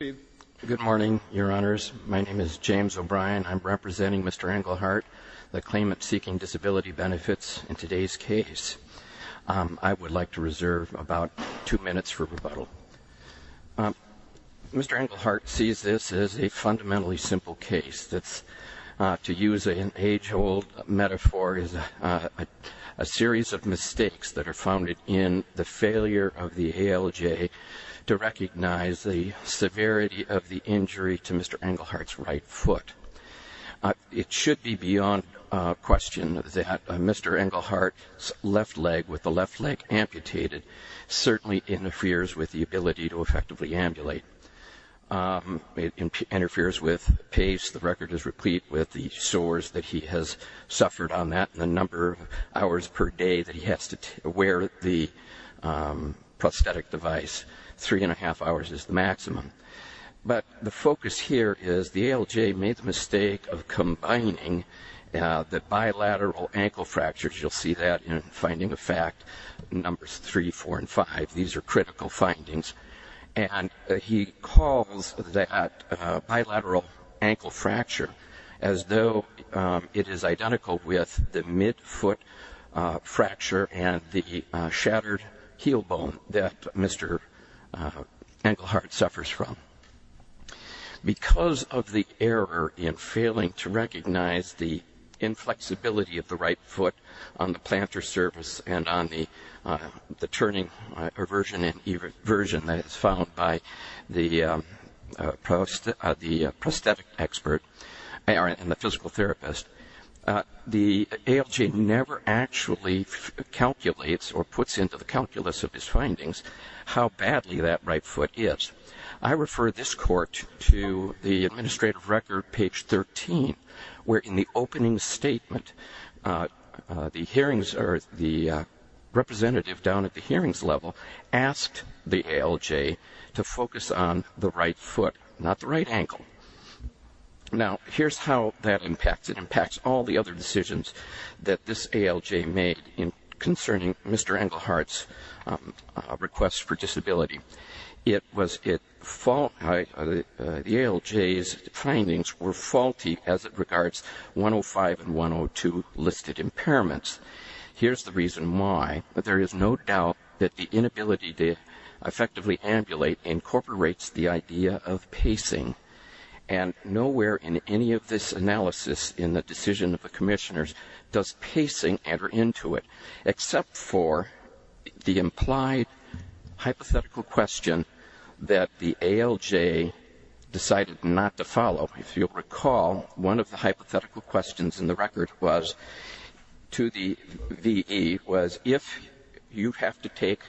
Good morning, your honors. My name is James O'Brien. I'm representing Mr. Engelhardt, the claimant seeking disability benefits in today's case. I would like to reserve about two minutes for rebuttal. Mr. Engelhardt sees this as a fundamentally simple case that's, to use an age-old metaphor, is a series of mistakes that are founded in the failure of the ALJ to recognize the severity of the injury to Mr. Engelhardt's right foot. It should be beyond question that Mr. Engelhardt's left leg, with the left leg amputated, certainly interferes with the ability to effectively ambulate. It interferes with pace. The record is replete with the sores that he has suffered on that and the number of hours per day that he has to wear the prosthetic device. Three and a half hours is the maximum. But the focus here is the ALJ made the mistake of combining the bilateral ankle fractures. You'll see that in finding of fact numbers three, four, and five. These are critical findings. And he calls that bilateral ankle fracture as though it is identical with the midfoot fracture and the shattered heel bone that Mr. Engelhardt suffers from. Because of the error in failing to recognize the inflexibility of the right foot on the plantar surface and on the turning version that is found by the prosthetic expert and the physical therapist, the ALJ never actually calculates or puts into the calculus of his findings how badly that right foot is. I refer this court to the administrative record, page 13, where in the opening statement, the representative down at the hearings level asked the ALJ to focus on the right foot, not the right ankle. Now, here's how that impacts. It impacts all the other decisions that this ALJ made concerning Mr. Engelhardt's request for disability. The ALJ's findings were faulty as it regards 105 and 102 listed impairments. Here's the reason why. There is no doubt that the inability to effectively ambulate incorporates the idea of pacing. And nowhere in any of this analysis in the decision of the commissioners does pacing enter into it, except for the implied hypothetical question that the ALJ decided not to follow. If you'll recall, one of the hypothetical questions in the record to the VE was, if you have to take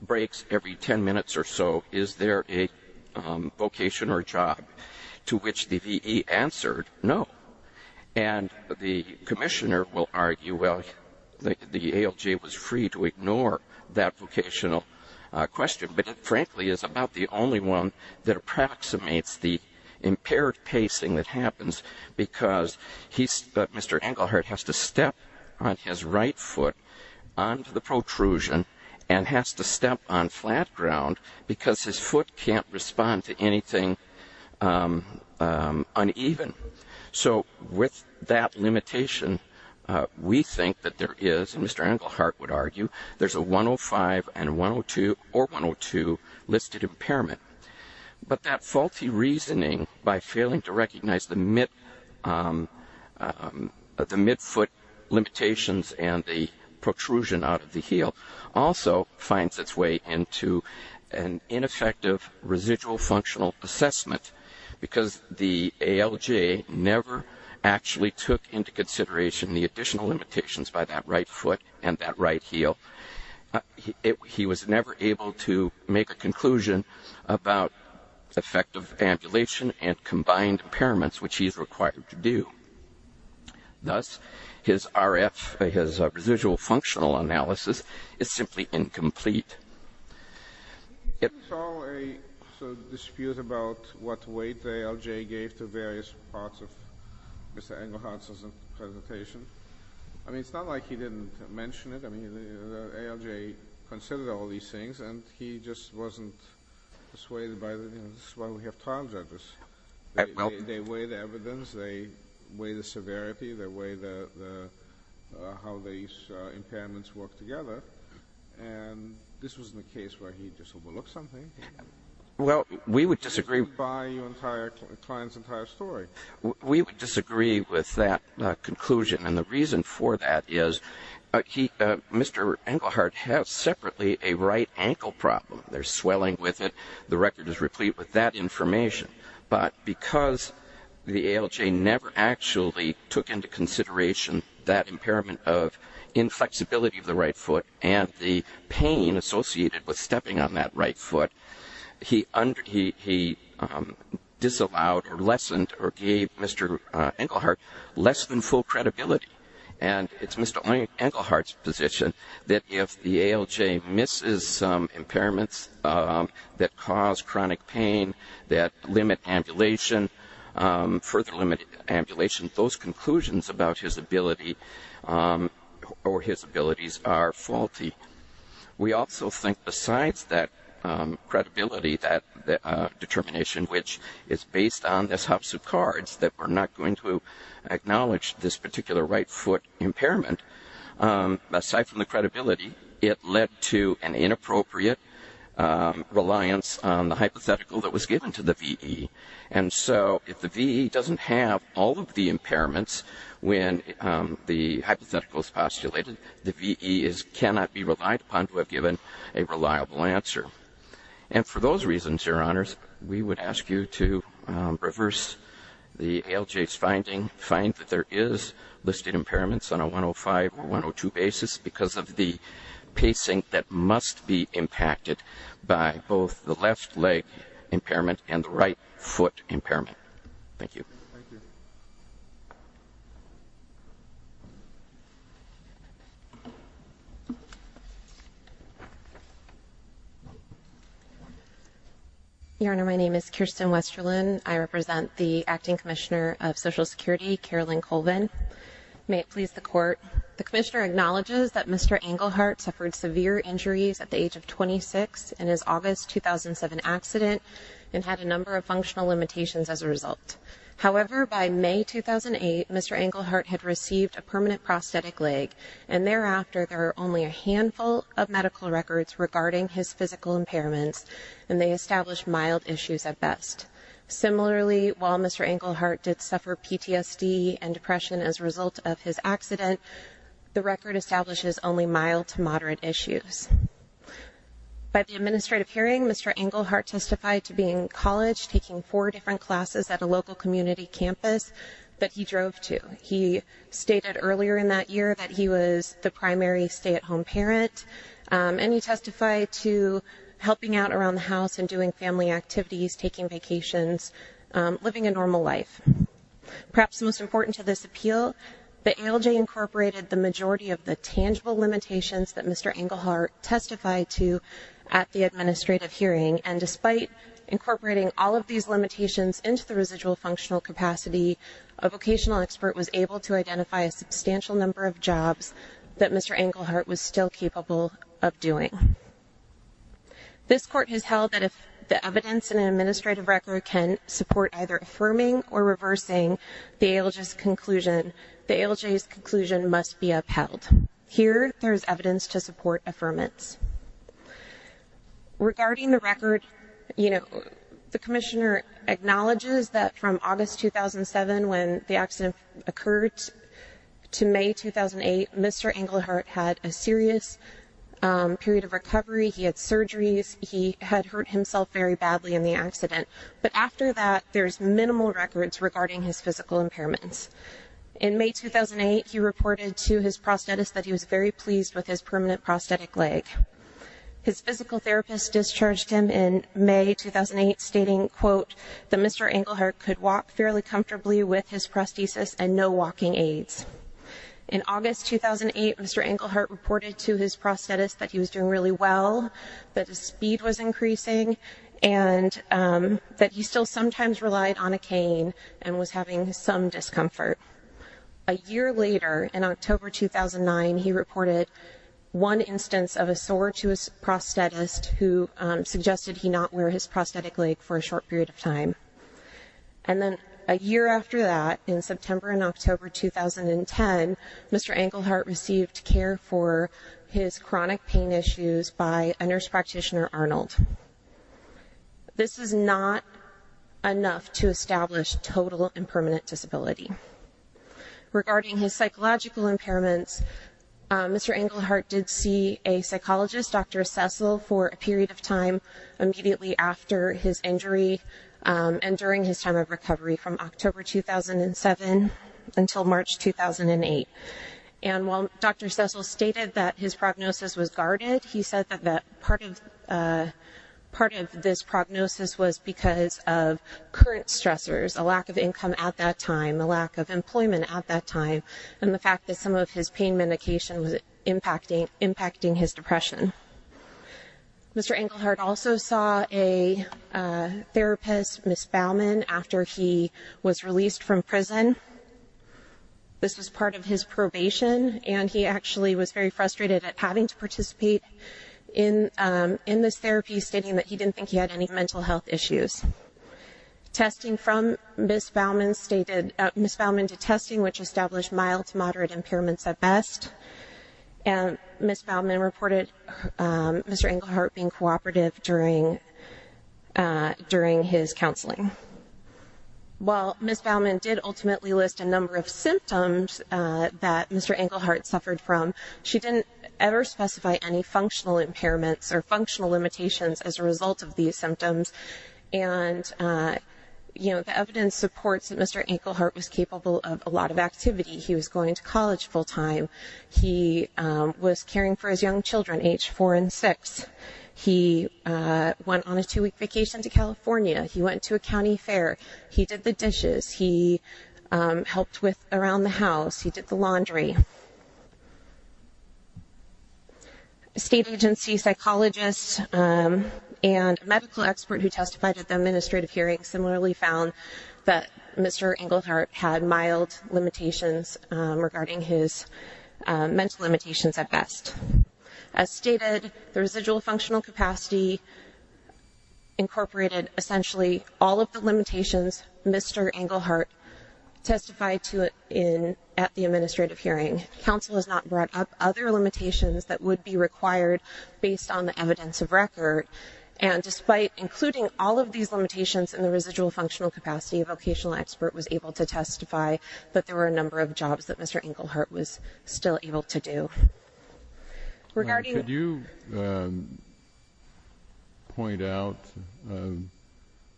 breaks every 10 minutes or so, is there a vocation or job? To which the VE answered, no. And the commissioner will argue, well, the ALJ was free to ignore that vocational question, but it frankly is about the only one that approximates the impaired pacing that happens because Mr. Engelhardt has to step on his right foot onto the protrusion and has to step on flat ground because his foot can't respond to anything uneven. So with that limitation, we think that there is, and Mr. Engelhardt would argue, there's a 105 or 102 listed impairment. But that faulty reasoning by failing to recognize the midfoot limitations and the protrusion out of the heel also finds its way into an ineffective residual functional assessment because the ALJ never actually took into consideration the additional limitations by that right foot and that right heel. He was never able to make a conclusion about effective ambulation and combined impairments, which he is required to do. Thus, his RF, his residual functional analysis, is simply incomplete. It's all a dispute about what weight the ALJ gave to various parts of Mr. Engelhardt's presentation. I mean, it's not like he didn't mention it. I mean, the ALJ considered all these things, and he just wasn't persuaded by them. This is why we have trial judges. They weigh the evidence. They weigh the severity. They weigh how these impairments work together. And this wasn't a case where he just overlooked something. Well, we would disagree. By your entire client's entire story. We would disagree with that conclusion, and the reason for that is Mr. Engelhardt has separately a right ankle problem. There's swelling with it. The record is replete with that information. But because the ALJ never actually took into consideration that impairment of inflexibility of the right foot and the pain associated with stepping on that right foot, he disallowed or lessened or gave Mr. Engelhardt less than full credibility. And it's Mr. Engelhardt's position that if the ALJ misses some impairments that cause chronic pain, that limit ambulation, further limit ambulation, those conclusions about his ability or his abilities are faulty. We also think besides that credibility, that determination, which is based on this house of cards, that we're not going to acknowledge this particular right foot impairment, aside from the credibility, it led to an inappropriate reliance on the hypothetical that was given to the VE. And so if the VE doesn't have all of the impairments when the hypothetical is postulated, the VE cannot be relied upon to have given a reliable answer. And for those reasons, Your Honors, we would ask you to reverse the ALJ's finding, find that there is listed impairments on a 105 or 102 basis because of the pacing that must be impacted by both the left leg impairment and the right foot impairment. Thank you. Thank you. Your Honor, my name is Kirsten Westerlin. I represent the Acting Commissioner of Social Security, Carolyn Colvin. May it please the Court, the Commissioner acknowledges that Mr. Engelhardt suffered severe injuries at the age of 26 in his August 2007 accident and had a number of functional limitations as a result. However, by May 2008, Mr. Engelhardt had received a permanent prosthetic leg, and thereafter there are only a handful of medical records regarding his physical impairments, and they establish mild issues at best. Similarly, while Mr. Engelhardt did suffer PTSD and depression as a result of his accident, the record establishes only mild to moderate issues. By the administrative hearing, Mr. Engelhardt testified to being in college, taking four different classes at a local community campus that he drove to. He stated earlier in that year that he was the primary stay-at-home parent, and he testified to helping out around the house and doing family activities, taking vacations, living a normal life. Perhaps most important to this appeal, the ALJ incorporated the majority of the tangible limitations that Mr. Engelhardt testified to at the administrative hearing, and despite incorporating all of these limitations into the residual functional capacity, a vocational expert was able to identify a substantial number of jobs that Mr. Engelhardt was still capable of doing. This Court has held that if the evidence in an administrative record can support either affirming or reversing the ALJ's conclusion, the ALJ's conclusion must be upheld. Here, there is evidence to support affirmance. Regarding the record, the Commissioner acknowledges that from August 2007 when the accident occurred to May 2008, Mr. Engelhardt had a serious period of recovery. He had surgeries. He had hurt himself very badly in the accident. But after that, there's minimal records regarding his physical impairments. In May 2008, he reported to his prosthetist that he was very pleased with his permanent prosthetic leg. His physical therapist discharged him in May 2008, stating, quote, that Mr. Engelhardt could walk fairly comfortably with his prosthesis and no walking aids. In August 2008, Mr. Engelhardt reported to his prosthetist that he was doing really well, that his speed was increasing, and that he still sometimes relied on a cane and was having some discomfort. A year later, in October 2009, he reported one instance of a sore to his prosthetist who suggested he not wear his prosthetic leg for a short period of time. And then a year after that, in September and October 2010, Mr. Engelhardt received care for his chronic pain issues by a nurse practitioner, Arnold. This is not enough to establish total and permanent disability. Regarding his psychological impairments, Mr. Engelhardt did see a psychologist, Dr. Cecil, for a period of time immediately after his injury and during his time of recovery, from October 2007 until March 2008. And while Dr. Cecil stated that his prognosis was guarded, he said that part of this prognosis was because of current stressors, a lack of income at that time, a lack of employment at that time, and the fact that some of his pain medication was impacting his depression. Mr. Engelhardt also saw a therapist, Ms. Baumann, after he was released from prison. This was part of his probation, and he actually was very frustrated at having to participate in this therapy, stating that he didn't think he had any mental health issues. Testing from Ms. Baumann to testing, which established mild to moderate impairments at best. Ms. Baumann reported Mr. Engelhardt being cooperative during his counseling. While Ms. Baumann did ultimately list a number of symptoms that Mr. Engelhardt suffered from, she didn't ever specify any functional impairments or functional limitations as a result of these symptoms. And the evidence supports that Mr. Engelhardt was capable of a lot of activity. He was going to college full-time. He was caring for his young children, age four and six. He went on a two-week vacation to California. He went to a county fair. He did the dishes. He helped around the house. He did the laundry. State agency psychologists and a medical expert who testified at the administrative hearing similarly found that Mr. Engelhardt had mild limitations regarding his mental limitations at best. As stated, the residual functional capacity incorporated essentially all of the limitations Mr. Counsel has not brought up other limitations that would be required based on the evidence of record. And despite including all of these limitations in the residual functional capacity, a vocational expert was able to testify that there were a number of jobs that Mr. Engelhardt was still able to do. Regarding- Could you point out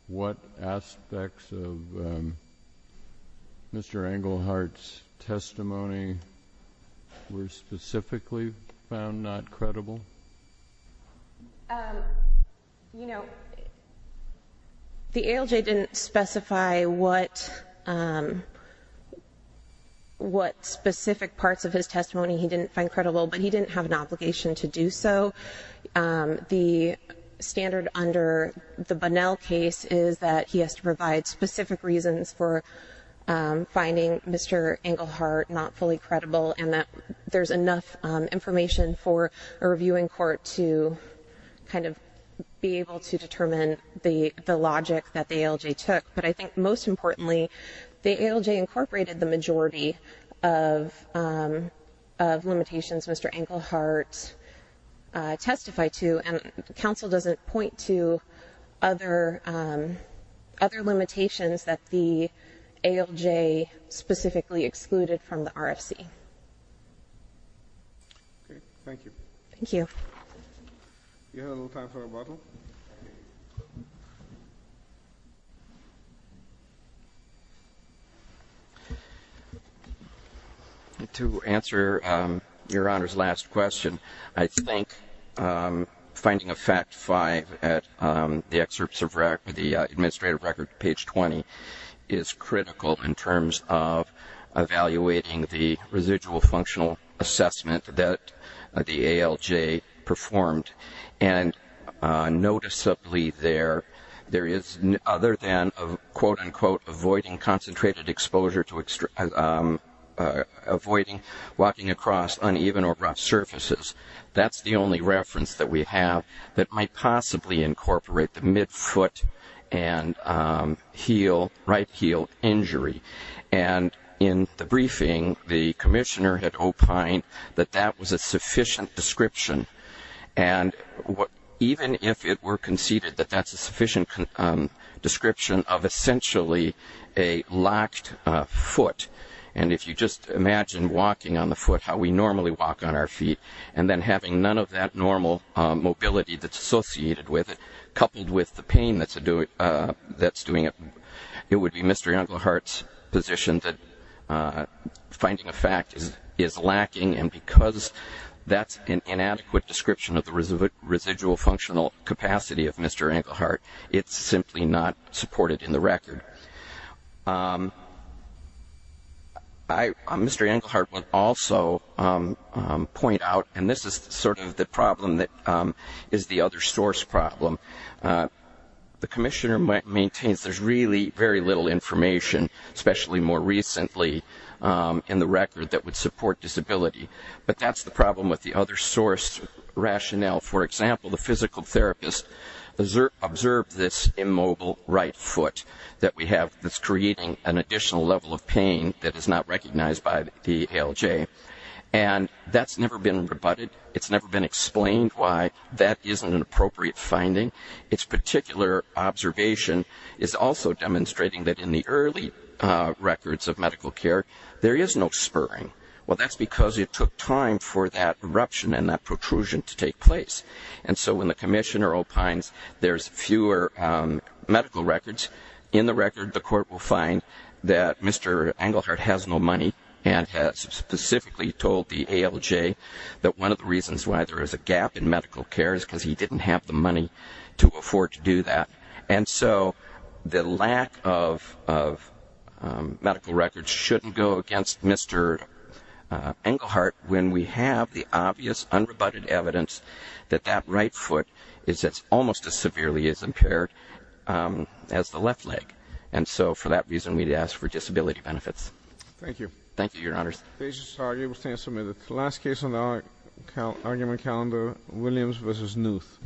what aspects of Mr. Engelhardt's testimony were specifically found not credible? You know, the ALJ didn't specify what specific parts of his testimony he didn't find credible, but he didn't have an obligation to do so. The standard under the Bunnell case is that he has to provide specific reasons for finding Mr. Engelhardt not fully credible and that there's enough information for a reviewing court to kind of be able to determine the logic that the ALJ took. But I think most importantly, the ALJ incorporated the majority of limitations Mr. Engelhardt testified to, and Counsel doesn't point to other limitations that the ALJ specifically excluded from the RFC. Okay, thank you. Thank you. Do you have a little time for a bubble? To answer Your Honor's last question, I think finding a fact five at the excerpts of the administrative record, page 20, is critical in terms of evaluating the residual functional assessment that the ALJ performed. And noticeably there is, other than a quote-unquote avoiding concentrated exposure to- avoiding walking across uneven or rough surfaces, that's the only reference that we have that might possibly incorporate the right heel injury. And in the briefing, the commissioner had opined that that was a sufficient description. And even if it were conceded that that's a sufficient description of essentially a locked foot, and if you just imagine walking on the foot how we normally walk on our feet, and then having none of that normal mobility that's associated with it, it would be Mr. Engelhardt's position that finding a fact is lacking. And because that's an inadequate description of the residual functional capacity of Mr. Engelhardt, it's simply not supported in the record. Mr. Engelhardt would also point out, and this is sort of the problem that is the other source problem, the commissioner maintains there's really very little information, especially more recently, in the record that would support disability. But that's the problem with the other source rationale. For example, the physical therapist observed this immobile right foot that we have that's creating an additional level of pain that is not recognized by the ALJ, and that's never been rebutted. It's never been explained why that isn't an appropriate finding. Its particular observation is also demonstrating that in the early records of medical care, there is no spurring. Well, that's because it took time for that eruption and that protrusion to take place. And so when the commissioner opines there's fewer medical records, in the record the court will find that Mr. Engelhardt has no money and has specifically told the ALJ that one of the reasons why there is a gap in medical care is because he didn't have the money to afford to do that. And so the lack of medical records shouldn't go against Mr. Engelhardt when we have the obvious unrebutted evidence that that right foot is almost as severely impaired as the left leg. And so for that reason, we'd ask for disability benefits. Thank you. Thank you, Your Honors. The case is argued and submitted. The last case on the argument calendar, Williams v. Knuth.